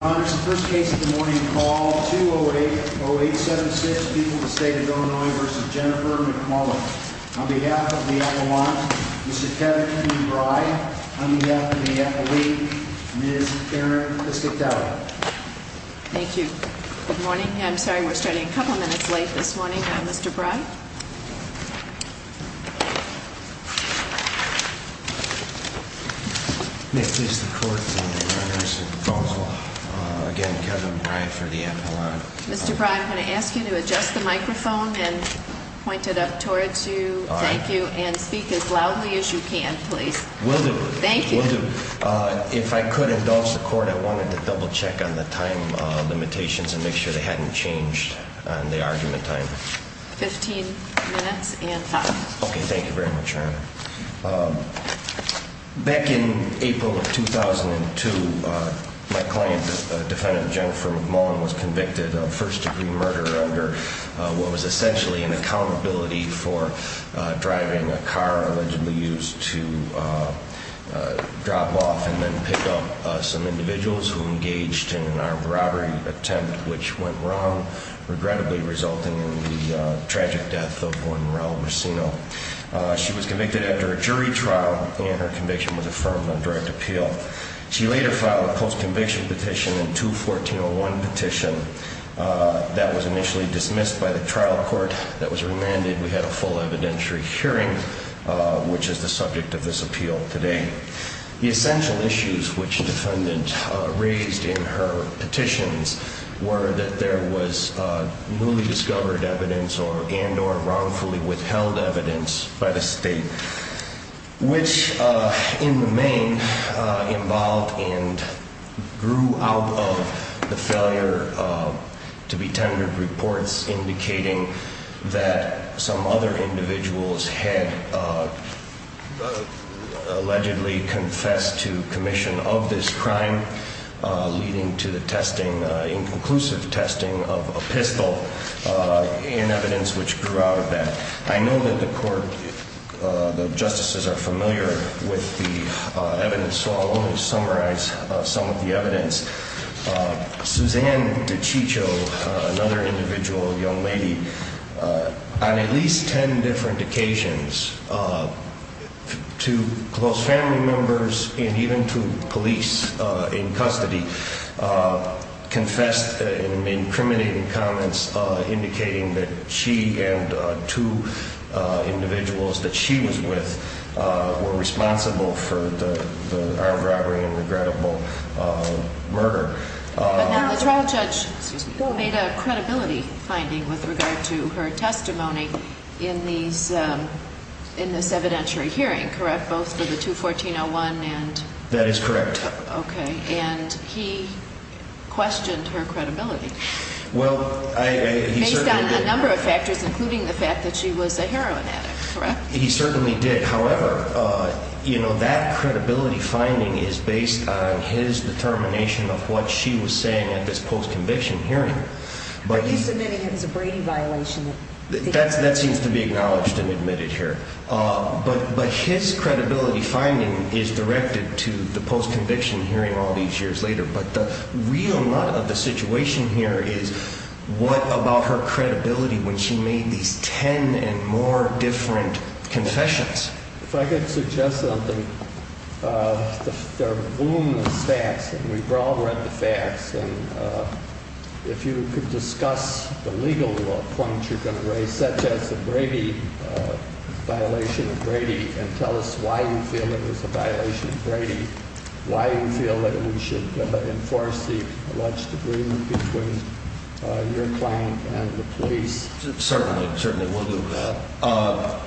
Honors, the first case of the morning called 2080876, People of the State of Illinois v. Jennifer McMullan. On behalf of the Avalanche, Mr. Kevin Kennebry, on behalf of the Avalanche, Ms. Karen Piscitelli. Thank you. Good morning. I'm sorry, we're starting a couple minutes late this morning. Mr. Bry. Mr. Bry, I'm going to ask you to adjust the microphone and point it up towards you. Thank you. And speak as loudly as you can, please. Will do. Thank you. If I could indulge the court, I wanted to double check on the time limitations and make sure they hadn't changed on the argument time. Fifteen minutes and five minutes. Okay, thank you very much, Your Honor. Back in April of 2002, my client, defendant Jennifer McMullan, was convicted of first-degree murder under what was essentially an accountability for driving a car allegedly used to drop off and then pick up some individuals who engaged in an armed robbery attempt which went wrong, regrettably resulting in the tragic death of one Raul Racino. She was convicted after a jury trial and her conviction was affirmed on direct appeal. She later filed a post-conviction petition in 214-01 petition that was initially dismissed by the trial court that was remanded. We had a full evidentiary hearing, which is the subject of this appeal today. The essential issues which the defendant raised in her petitions were that there was newly discovered evidence and or wrongfully withheld evidence by the state, which in the main involved and grew out of the failure to be tendered reports indicating that some other individuals had allegedly confessed to commission of this crime leading to the testing, inconclusive testing of a pistol and evidence which grew out of that. I know that the court, the justices are familiar with the evidence, so I'll only summarize some of the evidence. Suzanne DiCiccio, another individual, a young lady, on at least 10 different occasions to close family members and even to police in custody confessed in incriminating comments indicating that she and two individuals that she was with were responsible for the armed robbery and regrettable murder. The trial judge made a credibility finding with regard to her testimony in this evidentiary hearing, correct, both for the 214-01 and... That is correct. Okay, and he questioned her credibility. Well, he certainly did. Based on a number of factors, including the fact that she was a heroin addict, correct? He certainly did. However, you know, that credibility finding is based on his determination of what she was saying at this post-conviction hearing. But he's admitting it was a Brady violation. That seems to be acknowledged and admitted here. But his credibility finding is directed to the post-conviction hearing all these years later. But the real nut of the situation here is what about her credibility when she made these 10 and more different confessions? If I could suggest something. There are voluminous facts, and we've all read the facts, and if you could discuss the legal points you're going to raise, such as the Brady, violation of Brady, and tell us why you feel it was a violation of Brady, why you feel that we should enforce the alleged agreement between your client and the police. Certainly, certainly, we'll do that.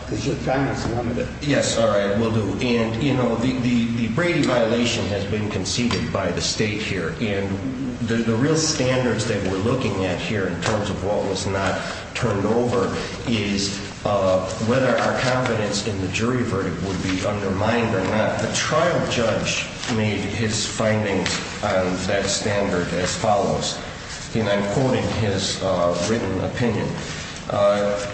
Because your time is limited. Yes, all right, we'll do. And, you know, the Brady violation has been conceded by the state here, and the real standards that we're looking at here in terms of what was not turned over is whether our confidence in the jury verdict would be undermined or not. The trial judge made his findings on that standard as follows, and I'm quoting his written opinion.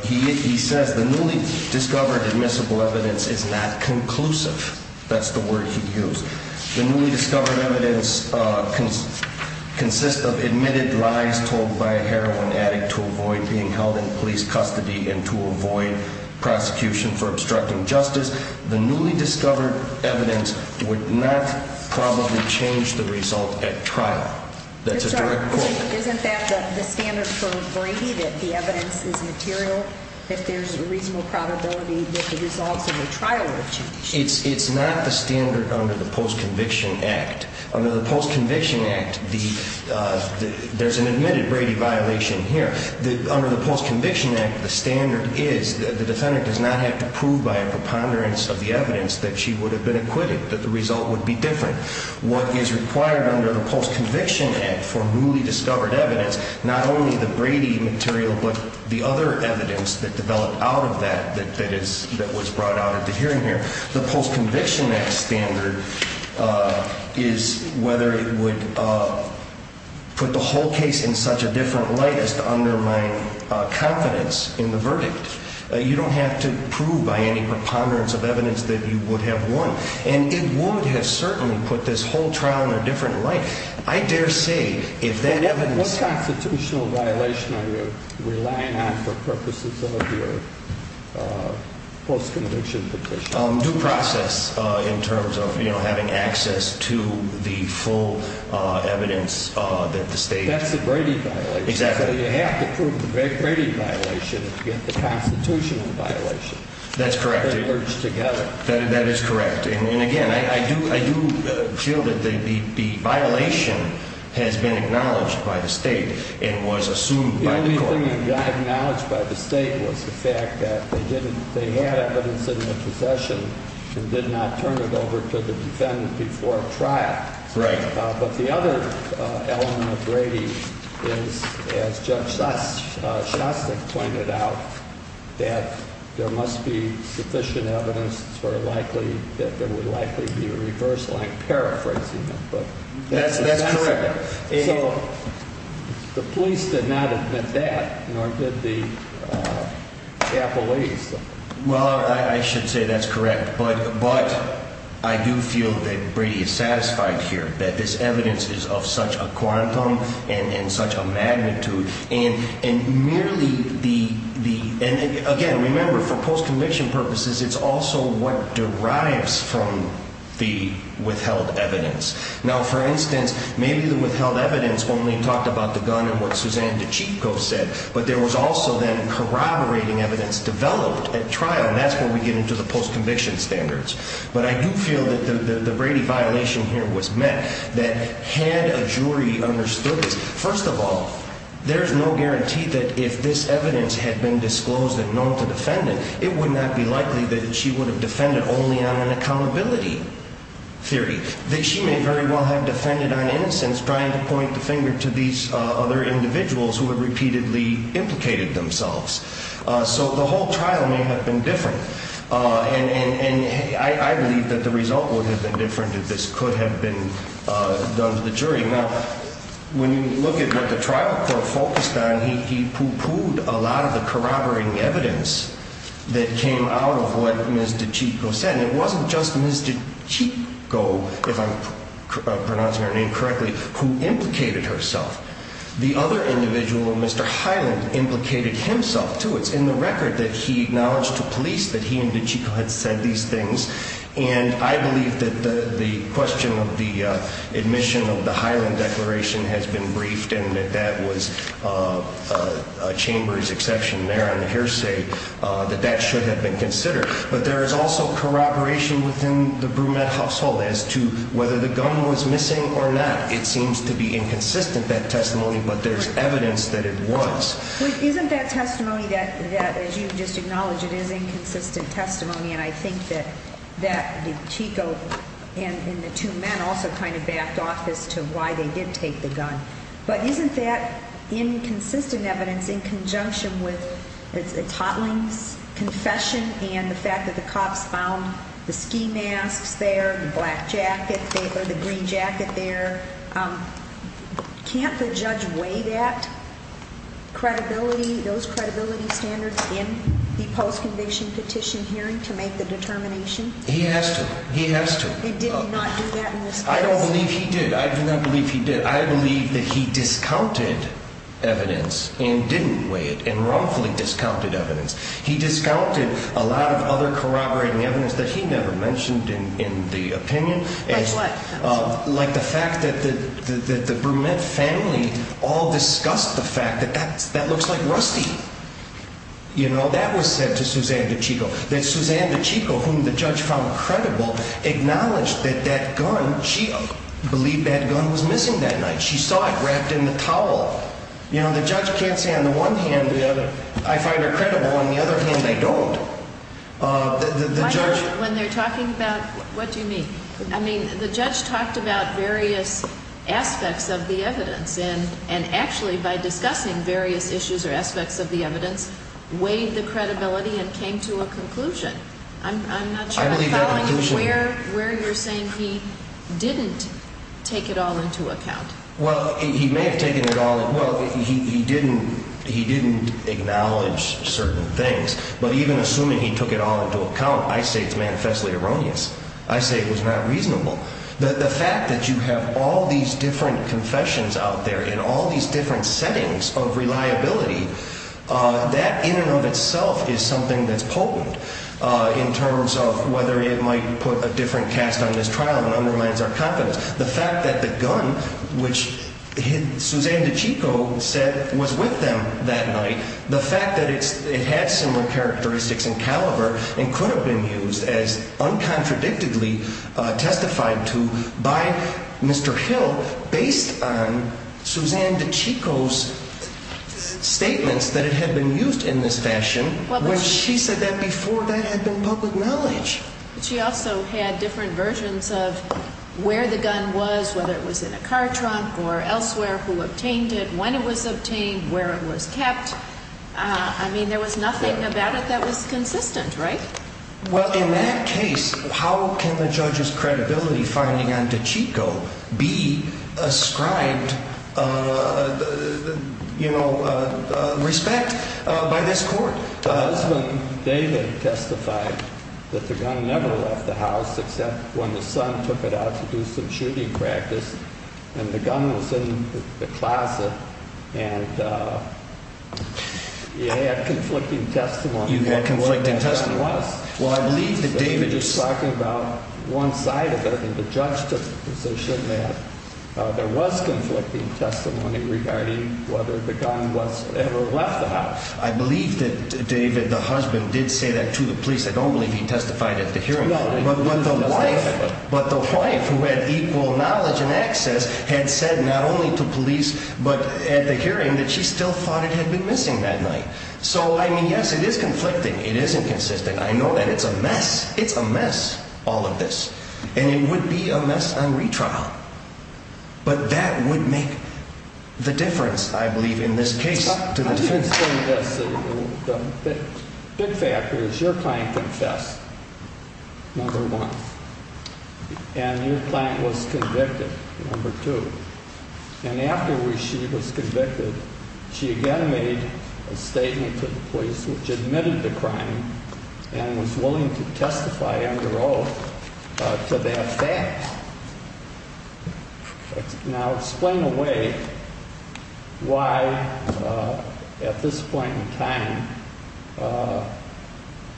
He says the newly discovered admissible evidence is not conclusive. That's the word he used. The newly discovered evidence consists of admitted lies told by a heroin addict to avoid being held in police custody and to avoid prosecution for obstructing justice. The newly discovered evidence would not probably change the result at trial. That's a direct quote. Isn't that the standard for Brady, that the evidence is material, that there's a reasonable probability that the results in the trial would change? It's not the standard under the Post-Conviction Act. Under the Post-Conviction Act, there's an admitted Brady violation here. Under the Post-Conviction Act, the standard is that the defendant does not have to prove by a preponderance of the evidence that she would have been acquitted, that the result would be different. What is required under the Post-Conviction Act for newly discovered evidence, not only the Brady material, but the other evidence that developed out of that that was brought out at the hearing here. The Post-Conviction Act standard is whether it would put the whole case in such a different light as to undermine confidence in the verdict. You don't have to prove by any preponderance of evidence that you would have won. And it would have certainly put this whole trial in a different light. What constitutional violation are you relying on for purposes of your post-conviction petition? Due process in terms of having access to the full evidence that the state… That's the Brady violation. Exactly. So you have to prove the Brady violation to get the constitutional violation. That's correct. They merge together. That is correct. And again, I do feel that the violation has been acknowledged by the state and was assumed by the court. The only thing that got acknowledged by the state was the fact that they had evidence in their possession and did not turn it over to the defendant before trial. Right. But the other element of Brady is, as Judge Shostak pointed out, that there must be sufficient evidence that there would likely be a reverse line paraphrasing it. That's correct. So the police did not admit that, nor did the appellees. But I do feel that Brady is satisfied here, that this evidence is of such a quantum and such a magnitude. And merely the… And again, remember, for post-conviction purposes, it's also what derives from the withheld evidence. Now, for instance, maybe the withheld evidence only talked about the gun and what Suzanne DiCicco said, but there was also then corroborating evidence developed at trial, and that's where we get into the post-conviction standards. But I do feel that the Brady violation here was met, that had a jury understood this… First of all, there's no guarantee that if this evidence had been disclosed and known to the defendant, it would not be likely that she would have defended only on an accountability theory, that she may very well have defended on innocence trying to point the finger to these other individuals who have repeatedly implicated themselves. So the whole trial may have been different. And I believe that the result would have been different if this could have been done to the jury. Now, when you look at what the trial court focused on, he pooh-poohed a lot of the corroborating evidence that came out of what Ms. DiCicco said. And it wasn't just Ms. DiCicco, if I'm pronouncing her name correctly, who implicated herself. The other individual, Mr. Hyland, implicated himself, too. It's in the record that he acknowledged to police that he and DiCicco had said these things. And I believe that the question of the admission of the Hyland declaration has been briefed and that that was a chamber's exception there on the hearsay, that that should have been considered. But there is also corroboration within the Brumette household as to whether the gun was missing or not. It seems to be inconsistent, that testimony, but there's evidence that it was. Isn't that testimony that, as you just acknowledged, it is inconsistent testimony? And I think that DiCicco and the two men also kind of backed off as to why they did take the gun. But isn't that inconsistent evidence in conjunction with the totling's confession and the fact that the cops found the ski masks there, the black jacket or the green jacket there? Can't the judge weigh that credibility, those credibility standards, in the post-conviction petition hearing to make the determination? He has to. He has to. And did he not do that in this case? I don't believe he did. I do not believe he did. I believe that he discounted evidence and didn't weigh it and wrongfully discounted evidence. He discounted a lot of other corroborating evidence that he never mentioned in the opinion. Like what? Like the fact that the Brumette family all discussed the fact that that looks like Rusty. You know, that was said to Suzanne DiCicco. That Suzanne DiCicco, whom the judge found credible, acknowledged that that gun, she believed that gun was missing that night. She saw it wrapped in the towel. You know, the judge can't say on the one hand, I find her credible. On the other hand, they don't. When they're talking about, what do you mean? I mean, the judge talked about various aspects of the evidence and actually by discussing various issues or aspects of the evidence, weighed the credibility and came to a conclusion. I'm not sure I'm following where you're saying he didn't take it all into account. Well, he may have taken it all in. Well, he didn't acknowledge certain things. But even assuming he took it all into account, I say it's manifestly erroneous. I say it was not reasonable. The fact that you have all these different confessions out there in all these different settings of reliability, that in and of itself is something that's potent in terms of whether it might put a different cast on this trial and undermines our confidence. The fact that the gun, which Suzanne DiCicco said was with them that night, the fact that it had similar characteristics and caliber and could have been used as uncontradictedly testified to by Mr. Hill based on Suzanne DiCicco's statements that it had been used in this fashion when she said that before that had been public knowledge. She also had different versions of where the gun was, whether it was in a car trunk or elsewhere, who obtained it, when it was obtained, where it was kept. I mean, there was nothing about it that was consistent, right? Well, in that case, how can the judge's credibility finding on DiCicco be ascribed, you know, respect by this court? The husband, David, testified that the gun never left the house except when the son took it out to do some shooting practice and the gun was in the closet and he had conflicting testimony. You had conflicting testimony? Well, I believe that David is talking about one side of it and the judge took the position that there was conflicting testimony regarding whether the gun ever left the house. I believe that David, the husband, did say that to the police. I don't believe he testified at the hearing. But the wife, who had equal knowledge and access, had said not only to police but at the hearing that she still thought it had been missing that night. So, I mean, yes, it is conflicting. It is inconsistent. I know that it's a mess. It's a mess, all of this. And it would be a mess on retrial. But that would make the difference, I believe, in this case. Well, let me explain this. The big factor is your client confessed, number one. And your client was convicted, number two. And after she was convicted, she again made a statement to the police, which admitted the crime and was willing to testify under oath to that fact. Now explain away why, at this point in time,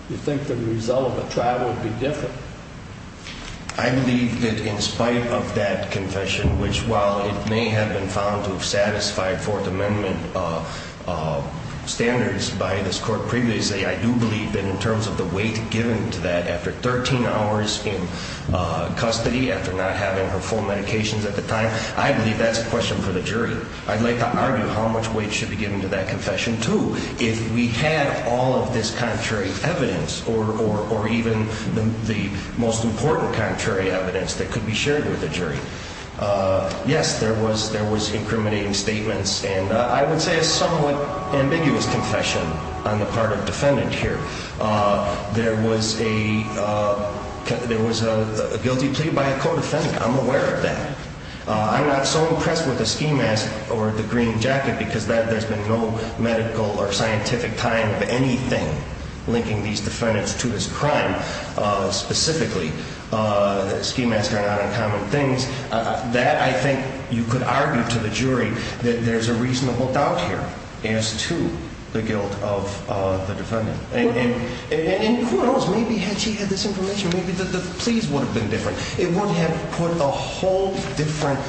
you think the result of the trial would be different. I believe that in spite of that confession, which while it may have been found to have satisfied Fourth Amendment standards by this court previously, I do believe that in terms of the weight given to that, after 13 hours in custody, after not having her full medications at the time, I believe that's a question for the jury. I'd like to argue how much weight should be given to that confession, too, if we had all of this contrary evidence or even the most important contrary evidence that could be shared with the jury. Yes, there was incriminating statements and I would say a somewhat ambiguous confession on the part of defendant here. There was a guilty plea by a co-defendant. I'm aware of that. I'm not so impressed with the ski mask or the green jacket, because there's been no medical or scientific time of anything linking these defendants to this crime specifically. Ski masks are not uncommon things. That, I think, you could argue to the jury that there's a reasonable doubt here as to the guilt of the defendant. And who knows? Maybe had she had this information, maybe the pleas would have been different. It would have put a whole different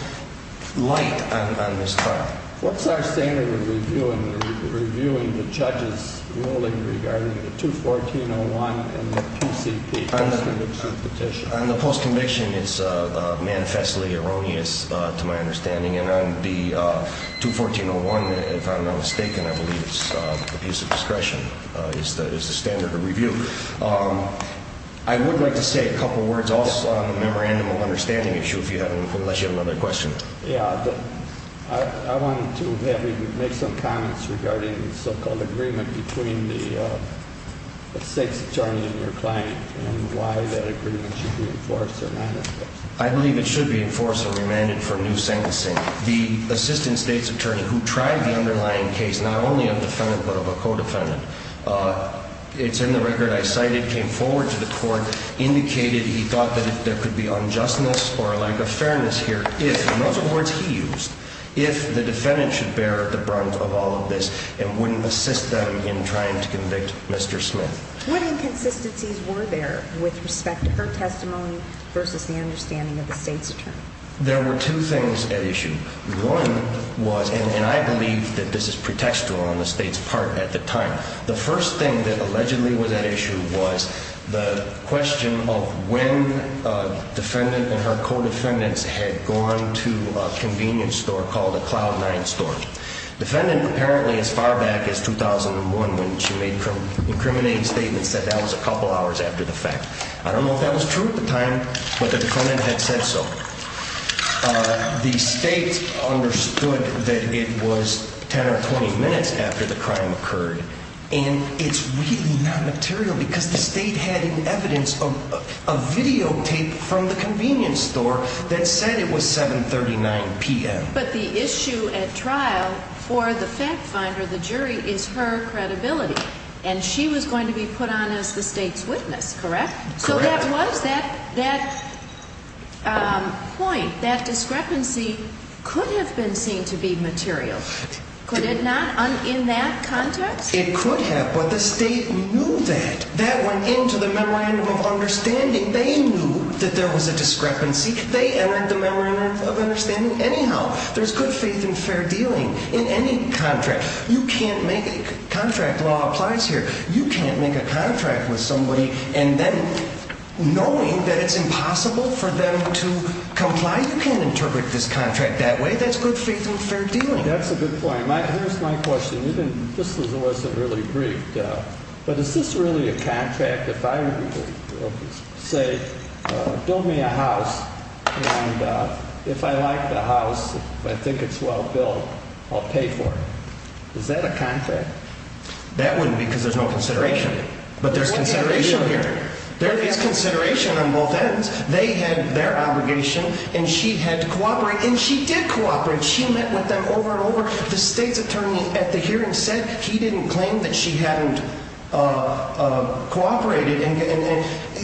light on this crime. What's our standard of reviewing the judge's ruling regarding the 214-01 and the PCP? On the post-conviction, it's manifestly erroneous to my understanding. And on the 214-01, if I'm not mistaken, I believe it's a piece of discretion. It's the standard of review. I would like to say a couple words also on the memorandum of understanding issue, unless you have another question. Yeah, I wanted to make some comments regarding the so-called agreement between the state's attorney and your client and why that agreement should be enforced or not enforced. I believe it should be enforced or remanded for new sentencing. The assistant state's attorney who tried the underlying case, not only of the defendant but of a co-defendant, it's in the record I cited, came forward to the court, indicated he thought that there could be unjustness or lack of fairness here. If, in those words he used, if the defendant should bear the brunt of all of this and wouldn't assist them in trying to convict Mr. Smith. What inconsistencies were there with respect to her testimony versus the understanding of the state's attorney? There were two things at issue. One was, and I believe that this is pretextual on the state's part at the time, the first thing that allegedly was at issue was the question of when a defendant and her co-defendants had gone to a convenience store called a Cloud 9 store. Defendant apparently as far back as 2001 when she made incriminating statements said that was a couple hours after the fact. I don't know if that was true at the time but the defendant had said so. The state understood that it was 10 or 20 minutes after the crime occurred and it's really not material because the state had evidence of a videotape from the convenience store that said it was 7.39 p.m. But the issue at trial for the fact finder, the jury, is her credibility. And she was going to be put on as the state's witness, correct? Correct. So that was that point. That discrepancy could have been seen to be material. Could it not in that context? It could have but the state knew that. That went into the memorandum of understanding. They knew that there was a discrepancy. They entered the memorandum of understanding. Anyhow, there's good faith and fair dealing in any contract. You can't make a contract. Law applies here. You can't make a contract with somebody and then knowing that it's impossible for them to comply, you can't interpret this contract that way. That's good faith and fair dealing. That's a good point. Here's my question. This wasn't really briefed. But is this really a contract if I say build me a house and if I like the house, I think it's well built, I'll pay for it? Is that a contract? That wouldn't be because there's no consideration. But there's consideration here. There is consideration on both ends. They had their obligation and she had to cooperate and she did cooperate. She met with them over and over. The state's attorney at the hearing said he didn't claim that she hadn't cooperated.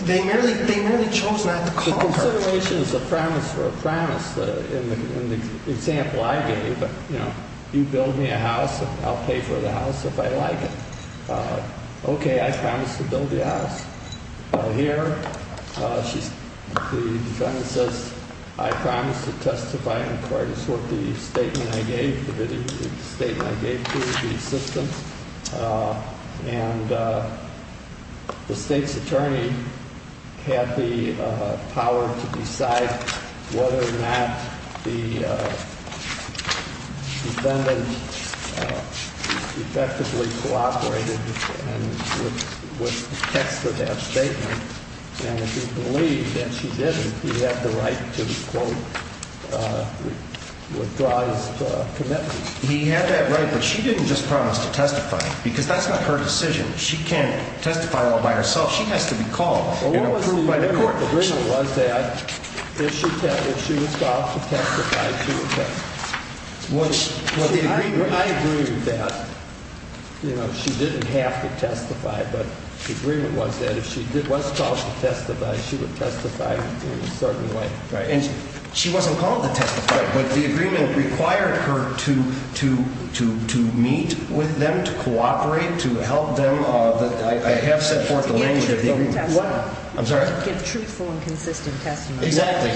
They merely chose not to call her. The consideration is a premise for a premise. In the example I gave you, you build me a house and I'll pay for the house if I like it. Okay, I promise to build you a house. Here, the defendant says I promise to testify in court. It's what the statement I gave, the statement I gave to the system. And the state's attorney had the power to decide whether or not the defendant effectively cooperated with the text of that statement. And if he believed that she didn't, he had the right to, quote, withdraw his commitment. He had that right, but she didn't just promise to testify because that's not her decision. She can't testify all by herself. She has to be called and approved by the court. The agreement was that if she was called to testify, she would testify. I agree with that. She didn't have to testify, but the agreement was that if she was called to testify, she would testify in a certain way. And she wasn't called to testify, but the agreement required her to meet with them, to cooperate, to help them. I have set forth the language of the agreement. Give truthful and consistent testimony. Exactly.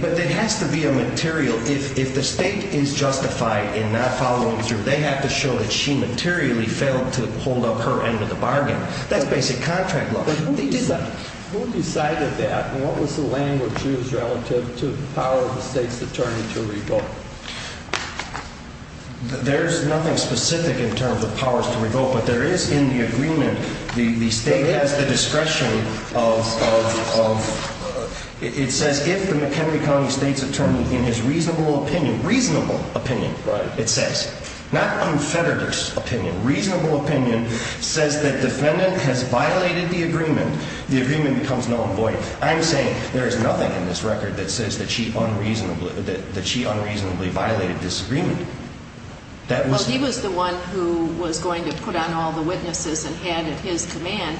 But there has to be a material. If the state is justified in not following through, they have to show that she materially failed to hold up her end of the bargain. That's basic contract law. Who decided that and what was the language used relative to the power of the state's attorney to revoke? There's nothing specific in terms of powers to revoke, but there is in the agreement, the state has the discretion of, it says, if the McHenry County state's attorney in his reasonable opinion, reasonable opinion, it says, not confederate's opinion, reasonable opinion, says that defendant has violated the agreement, the agreement becomes null and void. I'm saying there is nothing in this record that says that she unreasonably violated this agreement. Well, he was the one who was going to put on all the witnesses and had at his command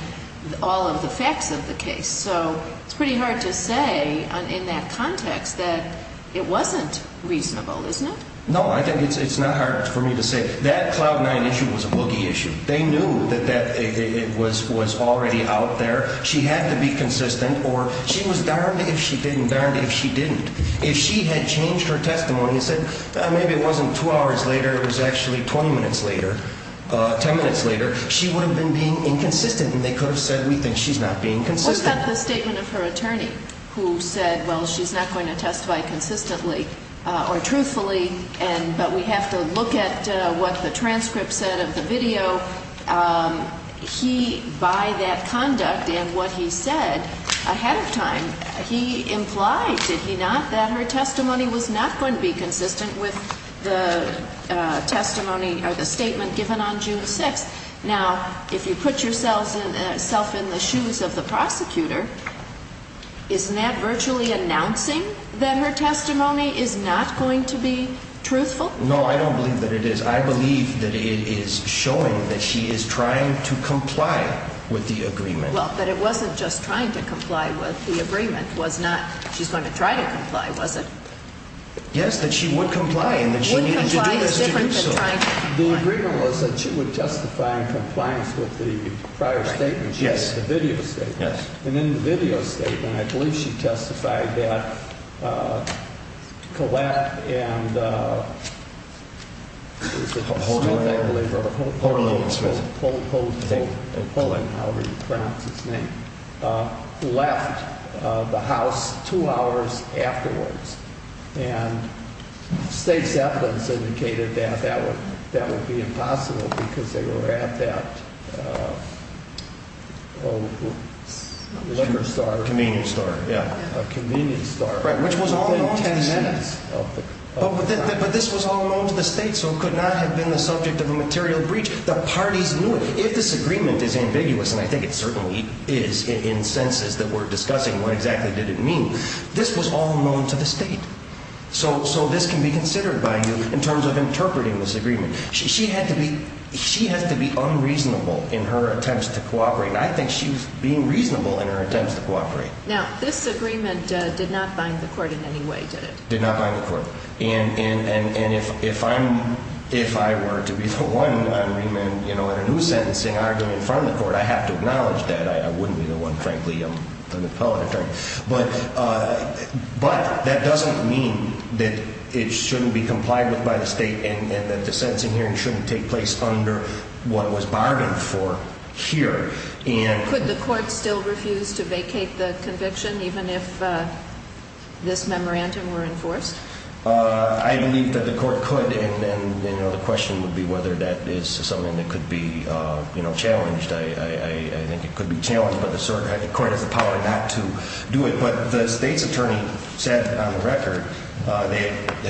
all of the facts of the case. So it's pretty hard to say in that context that it wasn't reasonable, isn't it? No, I think it's not hard for me to say. That Cloud 9 issue was a boogie issue. They knew that it was already out there. She had to be consistent or she was darned if she didn't, darned if she didn't. If she had changed her testimony and said, maybe it wasn't two hours later, it was actually 20 minutes later, 10 minutes later, she would have been being inconsistent and they could have said, we think she's not being consistent. What about the statement of her attorney who said, well, she's not going to testify consistently or truthfully, but we have to look at what the transcript said of the video? He, by that conduct and what he said ahead of time, he implied, did he not, that her testimony was not going to be consistent with the testimony or the statement given on June 6th. Now, if you put yourself in the shoes of the prosecutor, isn't that virtually announcing that her testimony is not going to be truthful? No, I don't believe that it is. I believe that it is showing that she is trying to comply with the agreement. Well, but it wasn't just trying to comply with the agreement. It was not, she's going to try to comply, was it? Yes, that she would comply and that she needed to do this to do so. The agreement was that she would testify in compliance with the prior statement she had, the video statement. Yes. And in the video statement, I believe she testified that Collette and, is it Smith, I believe, or Holt, Holt, Holt, Holt, Holt, however you pronounce his name, left the house two hours afterwards. And state supplements indicated that that would be impossible because they were at that liquor store. Convenience store. Yeah. A convenience store. Right, which was all known to the state. Within 10 minutes of the time. But this was all known to the state, so it could not have been the subject of a material breach. The parties knew it. If this agreement is ambiguous, and I think it certainly is in senses that we're discussing what exactly did it mean, this was all known to the state. So this can be considered by you in terms of interpreting this agreement. She had to be unreasonable in her attempts to cooperate, and I think she was being reasonable in her attempts to cooperate. Now, this agreement did not bind the court in any way, did it? Did not bind the court. And if I were to be the one on remand in a new sentencing argument in front of the court, I have to acknowledge that. I wouldn't be the one, frankly. I'm an appellate attorney. But that doesn't mean that it shouldn't be complied with by the state and that the sentencing hearing shouldn't take place under what was bargained for here. Could the court still refuse to vacate the conviction even if this memorandum were enforced? I believe that the court could, and the question would be whether that is something that could be challenged. I think it could be challenged, but the court has the power not to do it. But the state's attorney said on the record that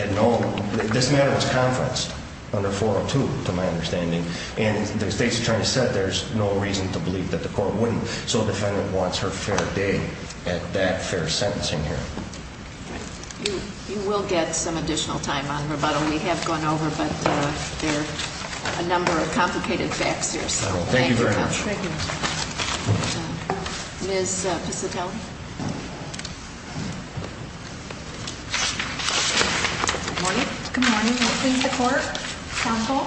this matter was conferenced under 402, to my understanding, and the state's attorney said there's no reason to believe that the court wouldn't. So the defendant wants her fair day at that fair sentencing hearing. You will get some additional time on rebuttal. We have gone over a number of complicated facts here. Thank you very much. Thank you. Ms. Piscitelli. Good morning. Good morning. Good morning to the court, counsel.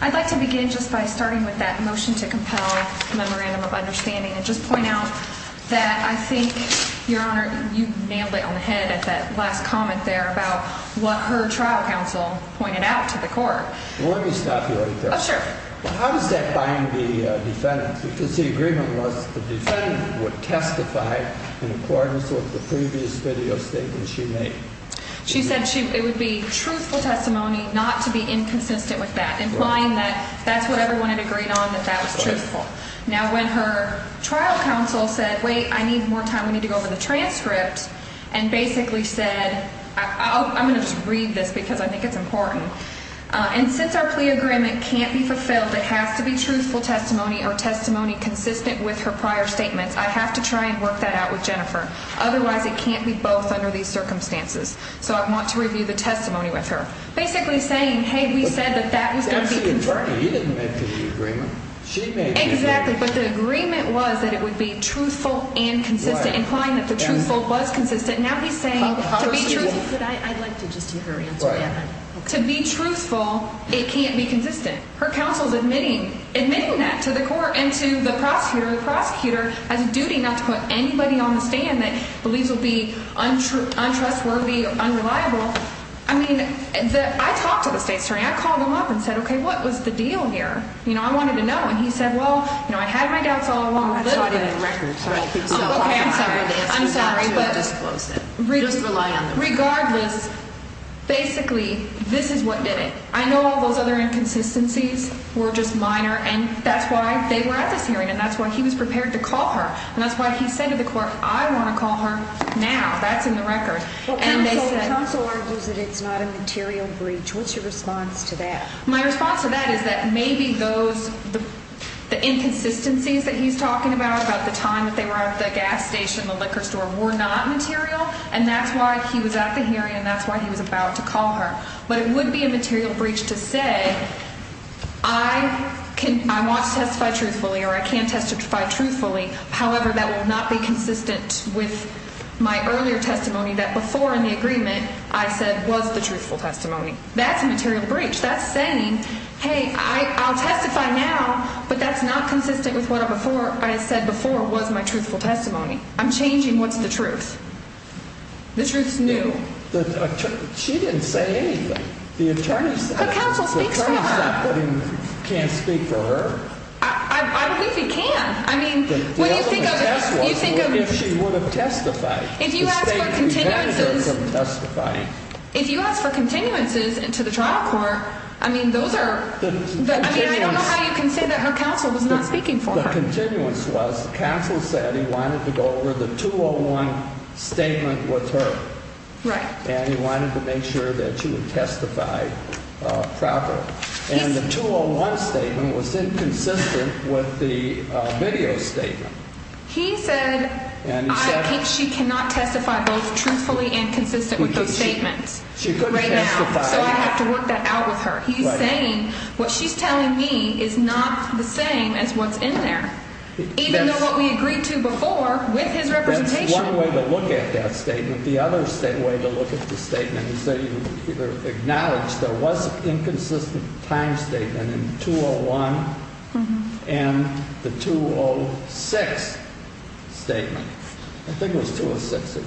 I'd like to begin just by starting with that motion to compel memorandum of understanding and just point out that I think, Your Honor, you nailed it on the head at that last comment there about what her trial counsel pointed out to the court. Let me stop you right there. Oh, sure. How does that bind the defendant? Because the agreement was the defendant would testify in accordance with the previous video statement she made. She said it would be truthful testimony, not to be inconsistent with that, implying that that's what everyone had agreed on, that that was truthful. Now, when her trial counsel said, wait, I need more time, we need to go over the transcript, and basically said, I'm going to just read this because I think it's important. And since our plea agreement can't be fulfilled, it has to be truthful testimony or testimony consistent with her prior statements. I have to try and work that out with Jennifer. Otherwise, it can't be both under these circumstances. So I want to review the testimony with her. Basically saying, hey, we said that that was going to be confirmed. He didn't make the agreement. She made the agreement. Exactly. But the agreement was that it would be truthful and consistent, implying that the truthful was consistent. Now he's saying to be truthful. I'd like to just hear her answer that. To be truthful, it can't be consistent. Her counsel's admitting that to the court and to the prosecutor. The prosecutor has a duty not to put anybody on the stand that believes will be untrustworthy or unreliable. I mean, I talked to the state attorney. I called him up and said, okay, what was the deal here? You know, I wanted to know. And he said, well, you know, I had my doubts all along. A little bit of records. Right. I'm sorry, but regardless. Basically, this is what did it. I know all those other inconsistencies were just minor. And that's why they were at this hearing. And that's why he was prepared to call her. And that's why he said to the court, I want to call her now. That's in the record. Counsel argues that it's not a material breach. What's your response to that? My response to that is that maybe those inconsistencies that he's talking about, about the time that they were at the gas station, the liquor store, were not material. And that's why he was at the hearing. And that's why he was about to call her. But it would be a material breach to say I want to testify truthfully or I can testify truthfully. However, that would not be consistent with my earlier testimony that before in the agreement I said was the truthful testimony. That's a material breach. That's saying, hey, I'll testify now. But that's not consistent with what I said before was my truthful testimony. I'm changing what's the truth. The truth's new. She didn't say anything. Her counsel speaks for her. The attorney's not putting can't speak for her. I believe he can. I mean, what do you think of if she would have testified? If you ask for continuances, if you ask for continuances to the trial court, I mean, those are, I mean, I don't know how you can say that her counsel was not speaking for her. Counsel said he wanted to go over the 201 statement with her. Right. And he wanted to make sure that she would testify proper. And the 201 statement was inconsistent with the video statement. He said she cannot testify both truthfully and consistent with those statements. She couldn't testify. So I have to work that out with her. He's saying what she's telling me is not the same as what's in there, even though what we agreed to before with his representation. That's one way to look at that statement. The other way to look at the statement is that you acknowledge there was an inconsistent time statement in 201 and the 206 statement. I think it was 206.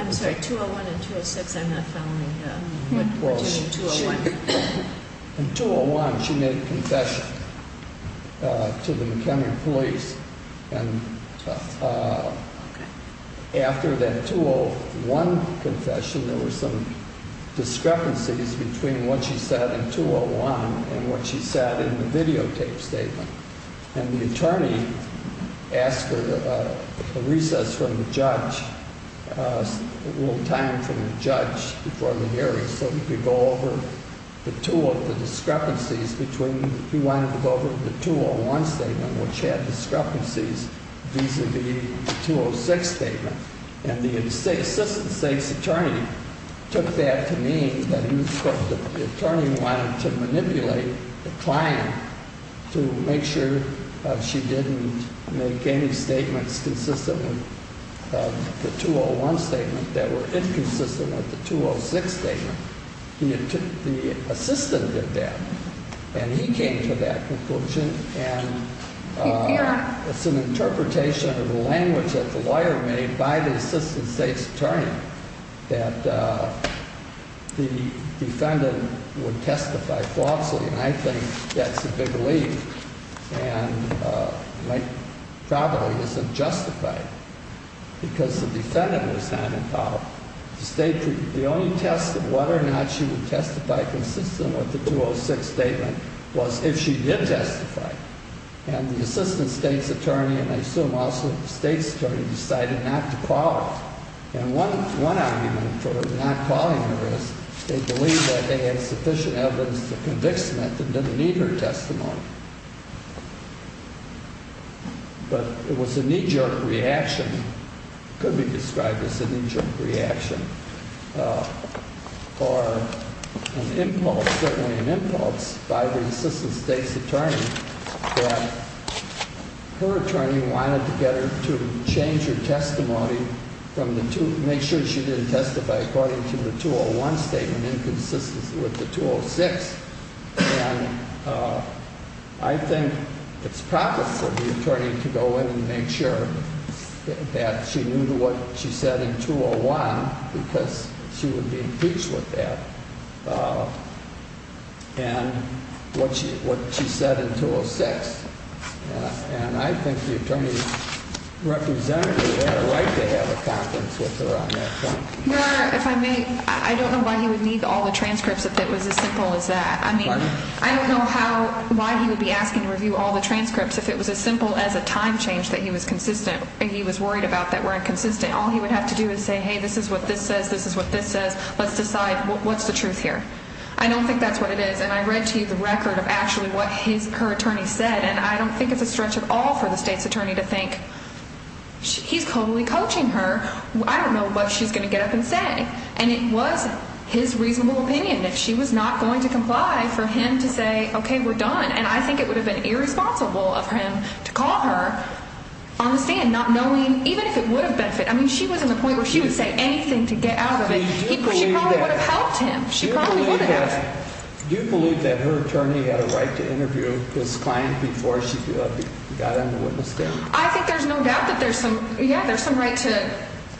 I'm sorry, 201 and 206. I'm not following what you mean, 201. In 201, she made a confession to the McHenry police. And after that 201 confession, there were some discrepancies between what she said in 201 and what she said in the videotape statement. And the attorney asked for a recess from the judge, a little time from the judge before the hearing so he could go over the two of the discrepancies between. He wanted to go over the 201 statement, which had discrepancies vis-a-vis the 206 statement. And the assistant state's attorney took that to mean that the attorney wanted to manipulate the client to make sure she didn't make any statements consistent with the 201 statement that were inconsistent with the 206 statement. The assistant did that. And he came to that conclusion. And it's an interpretation of the language that the lawyer made by the assistant state's attorney that the defendant would testify falsely. And I think that's a big relief. And it probably isn't justified because the defendant was not involved. The only test of whether or not she would testify consistent with the 206 statement was if she did testify. And the assistant state's attorney, and I assume also the state's attorney, decided not to call her. And one argument for not calling her is they believed that they had sufficient evidence to convict Smith and didn't need her testimony. But it was a knee-jerk reaction. It could be described as a knee-jerk reaction or an impulse, certainly an impulse by the assistant state's attorney that her attorney wanted to get her to change her testimony, make sure she didn't testify according to the 201 statement inconsistent with the 206. And I think it's proper for the attorney to go in and make sure that she knew what she said in 201 because she would be impeached with that. And what she said in 206. And I think the attorney's representative had a right to have a conference with her on that point. Your Honor, if I may, I don't know why he would need all the transcripts if it was as simple as that. I mean, I don't know how, why he would be asking to review all the transcripts if it was as simple as a time change that he was consistent and he was worried about that weren't consistent. All he would have to do is say, hey, this is what this says, this is what this says. Let's decide what's the truth here. I don't think that's what it is. And I read to you the record of actually what his, her attorney said. And I don't think it's a stretch at all for the state's attorney to think he's totally coaching her. I don't know what she's going to get up and say. And it was his reasonable opinion that she was not going to comply for him to say, okay, we're done. And I think it would have been irresponsible of him to call her on the stand not knowing even if it would have benefited. I mean, she was at a point where she would say anything to get out of it. She probably would have helped him. She probably would have. Do you believe that her attorney had a right to interview his client before she got on the witness stand? I think there's no doubt that there's some, yeah, there's some right to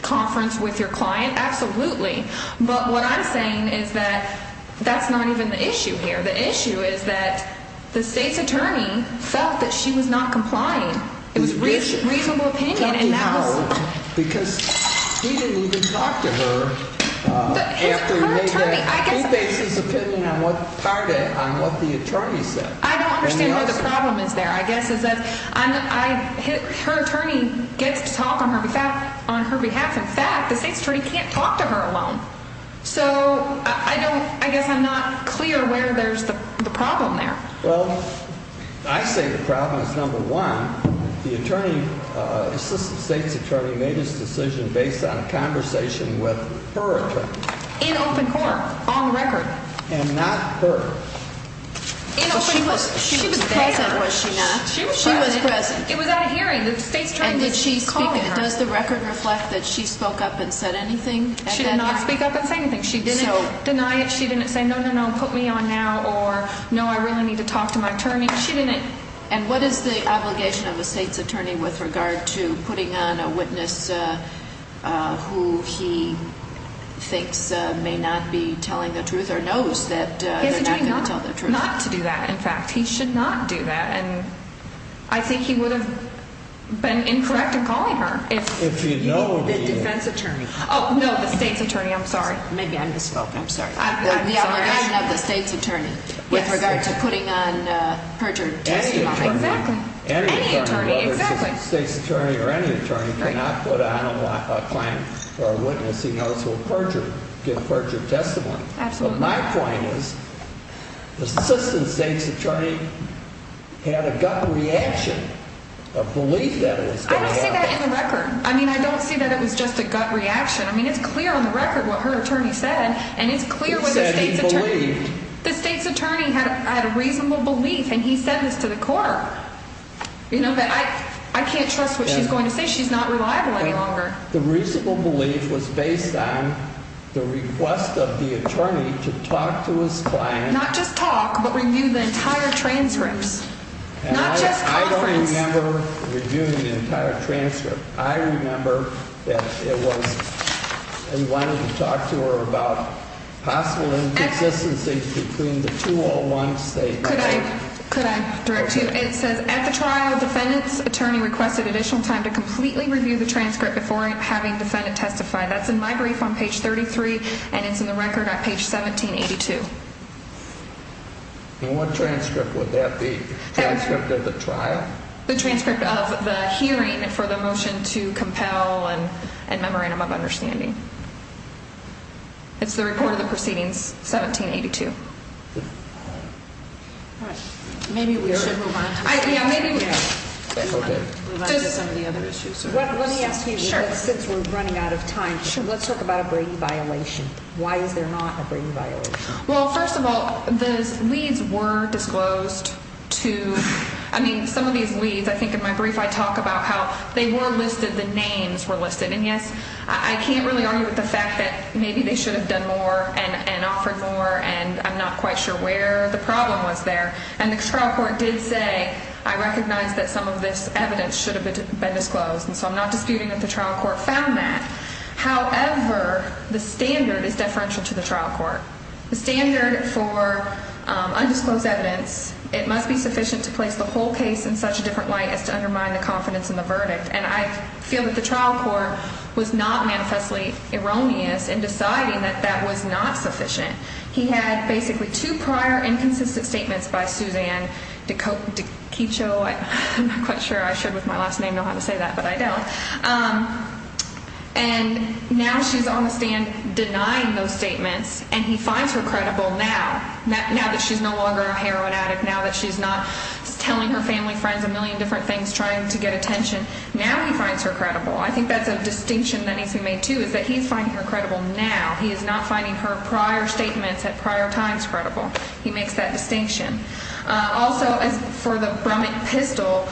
conference with your client. Absolutely. But what I'm saying is that that's not even the issue here. The issue is that the state's attorney felt that she was not complying. It was reasonable opinion. Because he didn't even talk to her. His attorney, I guess. He based his opinion on what the attorney said. I don't understand why the problem is there. I guess it's that her attorney gets to talk on her behalf. In fact, the state's attorney can't talk to her alone. So I guess I'm not clear where there's the problem there. Well, I say the problem is, number one, the attorney, the state's attorney made this decision based on a conversation with her attorney. In open court, on record. And not her. She was present, was she not? She was present. She was present. It was at a hearing. The state's attorney was calling her. And did she speak? Does the record reflect that she spoke up and said anything? She did not speak up and say anything. She didn't deny it. She didn't say, no, no, no, put me on now, or no, I really need to talk to my attorney. She didn't. And what is the obligation of the state's attorney with regard to putting on a witness who he thinks may not be telling the truth He's doing not to do that, in fact. He should not do that. And I think he would have been incorrect in calling her. If you know the defense attorney. Oh, no, the state's attorney. I'm sorry. Maybe I misspoke. I'm sorry. The obligation of the state's attorney with regard to putting on a perjured testimony. Exactly. Any attorney. Exactly. Any attorney, whether it's a state's attorney or any attorney, cannot put on a claim for a witness he knows will perjure, give perjured testimony. Absolutely. But my point is the assistant state's attorney had a gut reaction, a belief that it was going to happen. I don't see that in the record. I mean, I don't see that it was just a gut reaction. I mean, it's clear on the record what her attorney said, and it's clear what the state's attorney. He said he believed. The state's attorney had a reasonable belief, and he said this to the court. You know, but I can't trust what she's going to say. She's not reliable any longer. The reasonable belief was based on the request of the attorney to talk to his client. Not just talk, but review the entire transcripts. Not just conference. I don't remember reviewing the entire transcript. I remember that it was he wanted to talk to her about possible inconsistencies between the 201 statements. Could I direct you? It says at the trial, defendant's attorney requested additional time to completely review the transcript before having defendant testify. That's in my brief on page 33, and it's in the record on page 1782. And what transcript would that be? Transcript of the trial? The transcript of the hearing for the motion to compel and memorandum of understanding. It's the report of the proceedings, 1782. All right. Maybe we should move on to some of the other issues. Let me ask you, since we're running out of time, let's talk about a Brady violation. Why is there not a Brady violation? Well, first of all, the leads were disclosed to, I mean, some of these leads, I think in my brief I talk about how they were listed, the names were listed. And, yes, I can't really argue with the fact that maybe they should have done more and offered more, and I'm not quite sure where the problem was there. And the trial court did say, I recognize that some of this evidence should have been disclosed, and so I'm not disputing that the trial court found that. However, the standard is deferential to the trial court. The standard for undisclosed evidence, it must be sufficient to place the whole case in such a different light as to undermine the confidence in the verdict. And I feel that the trial court was not manifestly erroneous in deciding that that was not sufficient. He had basically two prior inconsistent statements by Suzanne DiCiccio. I'm not quite sure I should with my last name know how to say that, but I don't. And now she's on the stand denying those statements, and he finds her credible now, now that she's no longer a heroin addict, now that she's not telling her family, friends, a million different things, trying to get attention. Now he finds her credible. I think that's a distinction that needs to be made, too, is that he's finding her credible now. He is not finding her prior statements at prior times credible. He makes that distinction. Also, as for the Brummett pistol,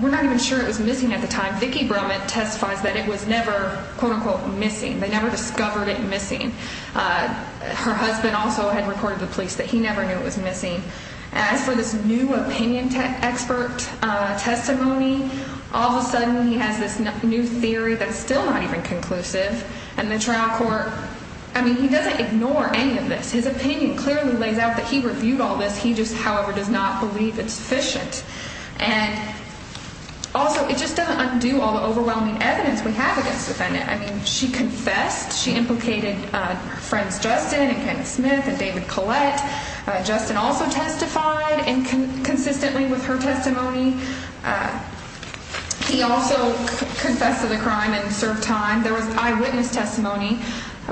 we're not even sure it was missing at the time. Vicki Brummett testifies that it was never, quote, unquote, missing. They never discovered it missing. Her husband also had reported to the police that he never knew it was missing. As for this new opinion expert testimony, all of a sudden he has this new theory that's still not even conclusive, and the trial court, I mean, he doesn't ignore any of this. His opinion clearly lays out that he reviewed all this. He just, however, does not believe it's sufficient. And also, it just doesn't undo all the overwhelming evidence we have against the defendant. I mean, she confessed. She implicated her friends Justin and Kenneth Smith and David Collette. Justin also testified consistently with her testimony. He also confessed to the crime and served time. There was eyewitness testimony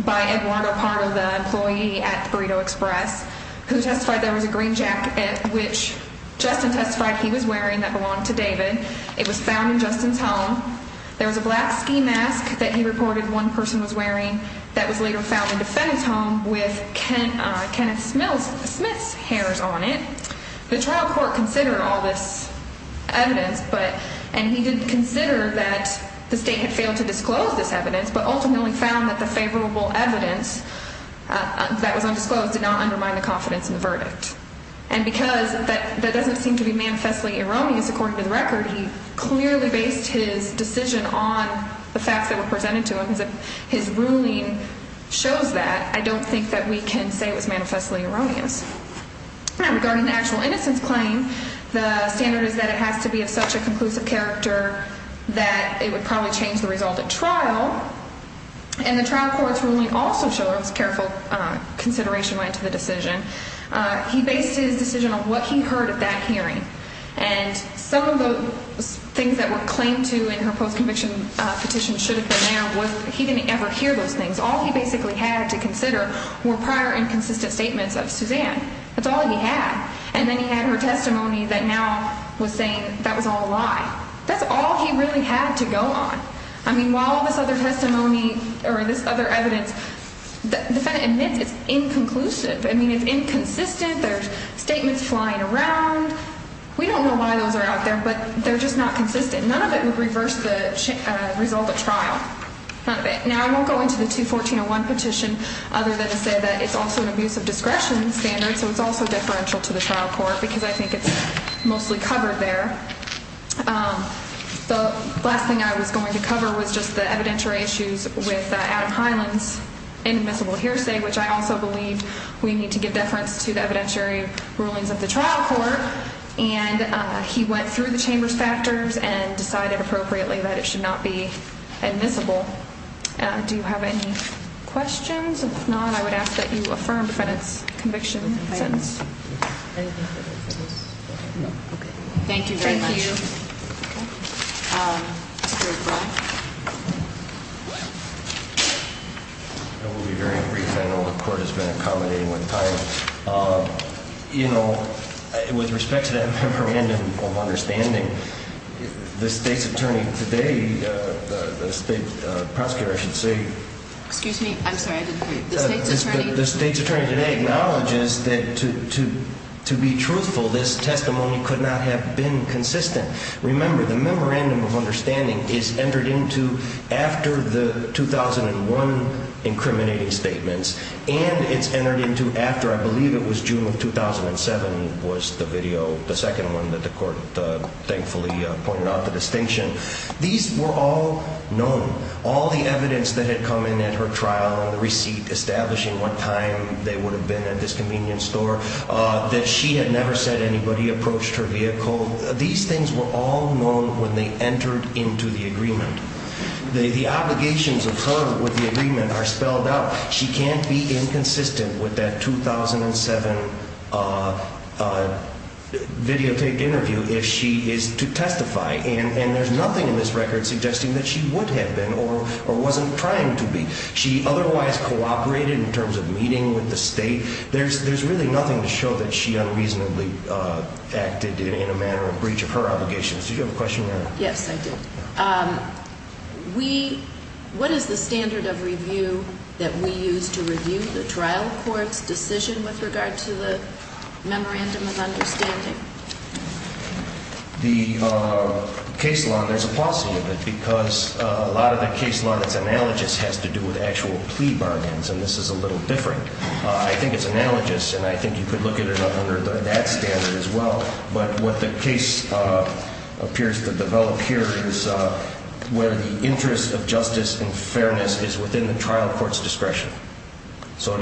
by Eduardo, part of the employee at Burrito Express, who testified there was a green jacket which Justin testified he was wearing that belonged to David. It was found in Justin's home. There was a black ski mask that he reported one person was wearing that was later found in the defendant's home with Kenneth Smith's hairs on it. The trial court considered all this evidence, and he did consider that the state had failed to disclose this evidence, but ultimately found that the favorable evidence that was undisclosed did not undermine the confidence in the verdict. And because that doesn't seem to be manifestly erroneous, according to the record, he clearly based his decision on the facts that were presented to him. His ruling shows that. I don't think that we can say it was manifestly erroneous. Now, regarding the actual innocence claim, the standard is that it has to be of such a conclusive character that it would probably change the result at trial. And the trial court's ruling also shows careful consideration went to the decision. He based his decision on what he heard at that hearing. And some of the things that were claimed to in her post-conviction petition should have been there. He didn't ever hear those things. All he basically had to consider were prior inconsistent statements of Suzanne. That's all he had. And then he had her testimony that now was saying that was all a lie. That's all he really had to go on. I mean, while this other testimony or this other evidence, the defendant admits it's inconclusive. I mean, it's inconsistent. There's statements flying around. We don't know why those are out there, but they're just not consistent. None of it would reverse the result at trial. None of it. Now, I won't go into the 214-01 petition other than to say that it's also an abuse of discretion standard. So it's also deferential to the trial court because I think it's mostly covered there. The last thing I was going to cover was just the evidentiary issues with Adam Highland's inadmissible hearsay, which I also believe we need to give deference to the evidentiary rulings of the trial court. And he went through the chamber's factors and decided appropriately that it should not be admissible. Do you have any questions? If not, I would ask that you affirm the defendant's conviction sentence. Anything further for this? No. Okay. Thank you very much. Thank you. Mr. O'Brien. I will be very brief. I know the court has been accommodating with time. You know, with respect to that memorandum of understanding, the state's attorney today, the state prosecutor, I should say. Excuse me? I'm sorry, I didn't hear you. The state's attorney today acknowledges that, to be truthful, this testimony could not have been consistent. Remember, the memorandum of understanding is entered into after the 2001 incriminating statements, and it's entered into after I believe it was June of 2007 was the video, the second one that the court thankfully pointed out, the distinction. These were all known. All the evidence that had come in at her trial and the receipt establishing what time they would have been at this convenience store, that she had never said anybody approached her vehicle, these things were all known when they entered into the agreement. The obligations of her with the agreement are spelled out. She can't be inconsistent with that 2007 videotaped interview if she is to testify, and there's nothing in this record suggesting that she would have been or wasn't trying to be. She otherwise cooperated in terms of meeting with the state. There's really nothing to show that she unreasonably acted in a manner of breach of her obligations. Did you have a question, Your Honor? Yes, I did. What is the standard of review that we use to review the trial court's decision with regard to the memorandum of understanding? The case law, there's a policy of it because a lot of the case law that's analogous has to do with actual plea bargains, and this is a little different. I think it's analogous, and I think you could look at it under that standard as well, but what the case appears to develop here is where the interest of justice and fairness is within the trial court's discretion. Isn't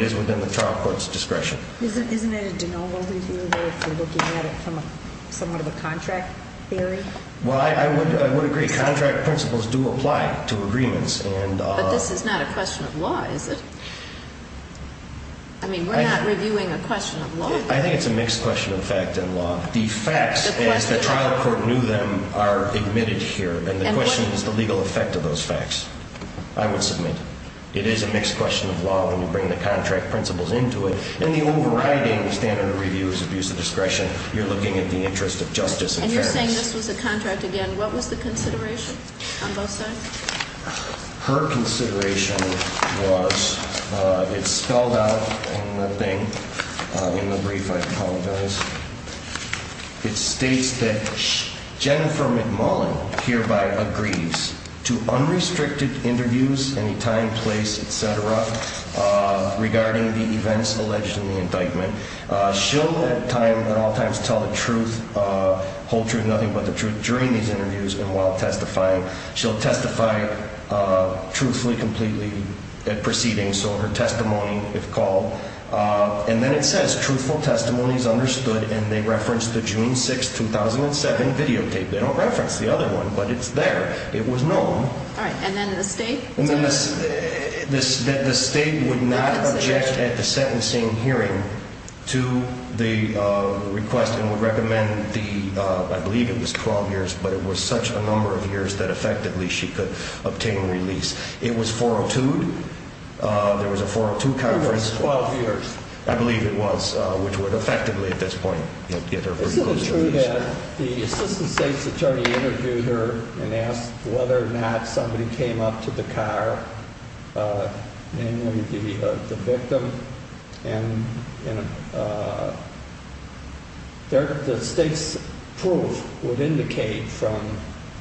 it a de novo review if you're looking at it from somewhat of a contract theory? Well, I would agree. Contract principles do apply to agreements. But this is not a question of law, is it? I mean, we're not reviewing a question of law here. I think it's a mixed question of fact and law. The facts, as the trial court knew them, are admitted here, and the question is the legal effect of those facts. I would submit it is a mixed question of law when you bring the contract principles into it, and the overriding standard of review is abuse of discretion. You're looking at the interest of justice and fairness. And you're saying this was a contract again. What was the consideration on both sides? Her consideration was, it's spelled out in the thing, in the brief, I apologize. It states that Jennifer McMullen hereby agrees to unrestricted interviews, any time, place, et cetera, regarding the events alleged in the indictment. She'll at all times tell the truth, hold to nothing but the truth during these interviews and while testifying. She'll testify truthfully, completely at proceedings, so her testimony, if called. And then it says, truthful testimony is understood, and they referenced the June 6, 2007 videotape. They don't reference the other one, but it's there. It was known. All right. And then the state? The state would not object at the sentencing hearing to the request and would recommend the, I believe it was 12 years, but it was such a number of years that effectively she could obtain release. It was 402'd. There was a 402 conference. It was 12 years. I believe it was, which would effectively at this point get her pretty close to release. Isn't it true that the assistant state's attorney interviewed her and asked whether or not somebody came up to the car, the victim, and the state's proof would indicate from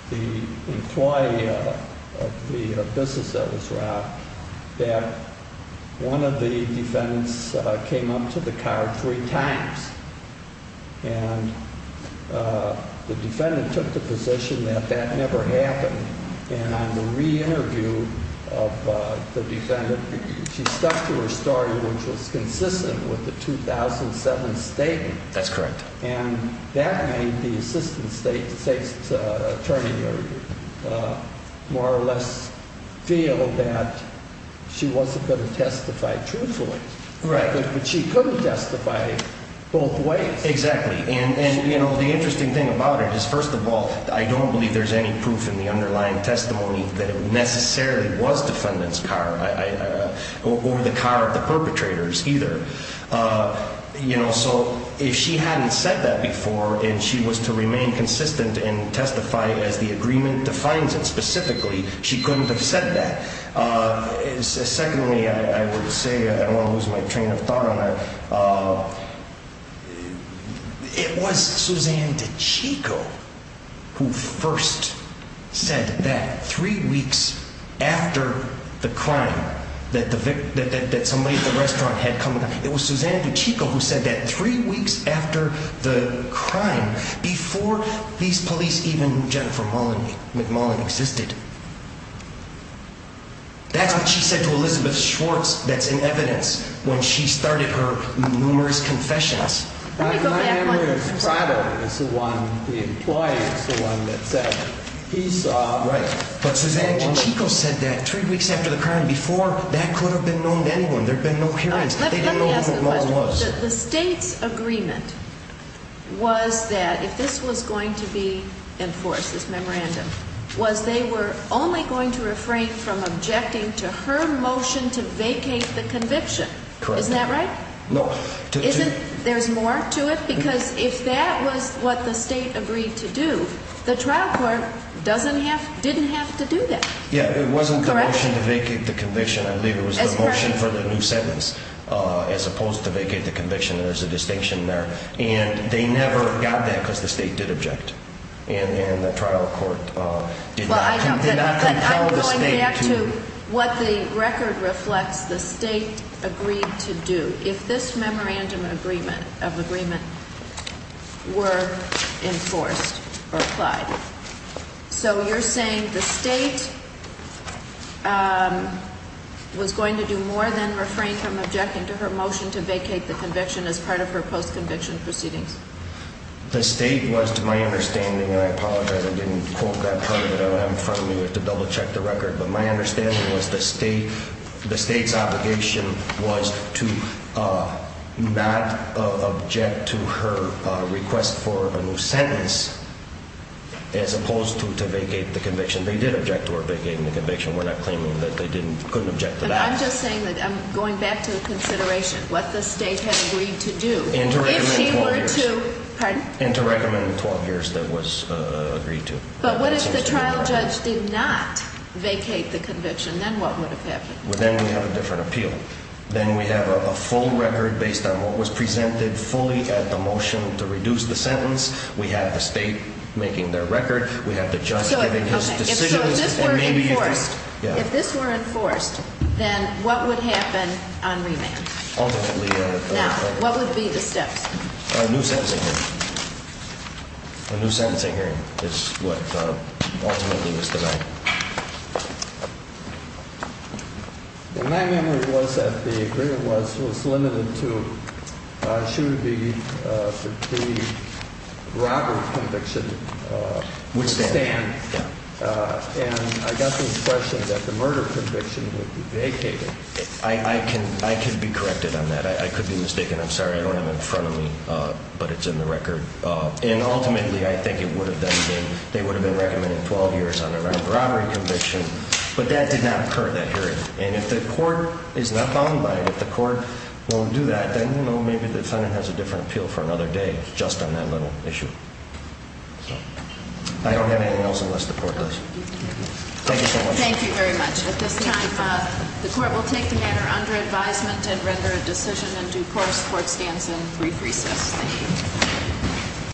the employee of the business that was robbed that one of the defendants came up to the car three times. And the defendant took the position that that never happened. And on the re-interview of the defendant, she stuck to her story, which was consistent with the 2007 statement. That's correct. And that made the assistant state's attorney more or less feel that she wasn't going to testify truthfully. Right. But she couldn't testify both ways. Exactly. And, you know, the interesting thing about it is, first of all, I don't believe there's any proof in the underlying testimony that it necessarily was defendant's car or the car of the perpetrators either. You know, so if she hadn't said that before and she was to remain consistent in testifying as the agreement defines it specifically, she couldn't have said that. Secondly, I would say, I don't want to lose my train of thought on it, it was Suzanne DiCicco who first said that three weeks after the crime that somebody at the restaurant had come. It was Suzanne DiCicco who said that three weeks after the crime, before these police, even Jennifer McMullen, existed. That's what she said to Elizabeth Schwartz that's in evidence when she started her numerous confessions. Let me go back one. My understanding is the one, the employee is the one that said he saw. Right. But Suzanne DiCicco said that three weeks after the crime, before that could have been known to anyone. There had been no hearings. They didn't know who McMullen was. The state's agreement was that if this was going to be enforced, this memorandum, was they were only going to refrain from objecting to her motion to vacate the conviction. Correct. Isn't that right? No. Isn't, there's more to it? Because if that was what the state agreed to do, the trial court doesn't have, didn't have to do that. Yeah, it wasn't the motion to vacate the conviction. I believe it was the motion for the new sentence as opposed to vacate the conviction. There's a distinction there. And they never got that because the state did object. And the trial court did not tell the state to. I'm going back to what the record reflects the state agreed to do. So you're saying the state was going to do more than refrain from objecting to her motion to vacate the conviction as part of her post-conviction proceedings. The state was, to my understanding, and I apologize I didn't quote that part of it. What I have in front of me was to double check the record. But my understanding was the state, the state's obligation was to not object to her request for a new sentence as opposed to vacate the conviction. They did object to her vacating the conviction. We're not claiming that they didn't, couldn't object to that. I'm just saying that I'm going back to the consideration, what the state had agreed to do. And to recommend 12 years. Pardon? And to recommend 12 years that was agreed to. But what if the trial judge did not vacate the conviction? Then what would have happened? Then we have a different appeal. Then we have a full record based on what was presented fully at the motion to reduce the sentence. We have the state making their record. We have the judge giving his decision. If this were enforced, then what would happen on remand? Now, what would be the steps? A new sentencing hearing. A new sentencing hearing is what ultimately was denied. My memory was that the agreement was limited to should the pre-robbery conviction withstand. And I got the impression that the murder conviction would be vacated. I can be corrected on that. I could be mistaken. I'm sorry. I don't have it in front of me, but it's in the record. And ultimately, I think it would have been recommended 12 years on a remand pre-robbery conviction. But that did not occur at that hearing. And if the court is not bound by it, if the court won't do that, then maybe the defendant has a different appeal for another day just on that little issue. I don't have anything else unless the court does. Thank you so much. Thank you very much. At this time, the court will take the matter under advisement and render a decision in due course. Court stands in brief recess. Thank you. Thank you.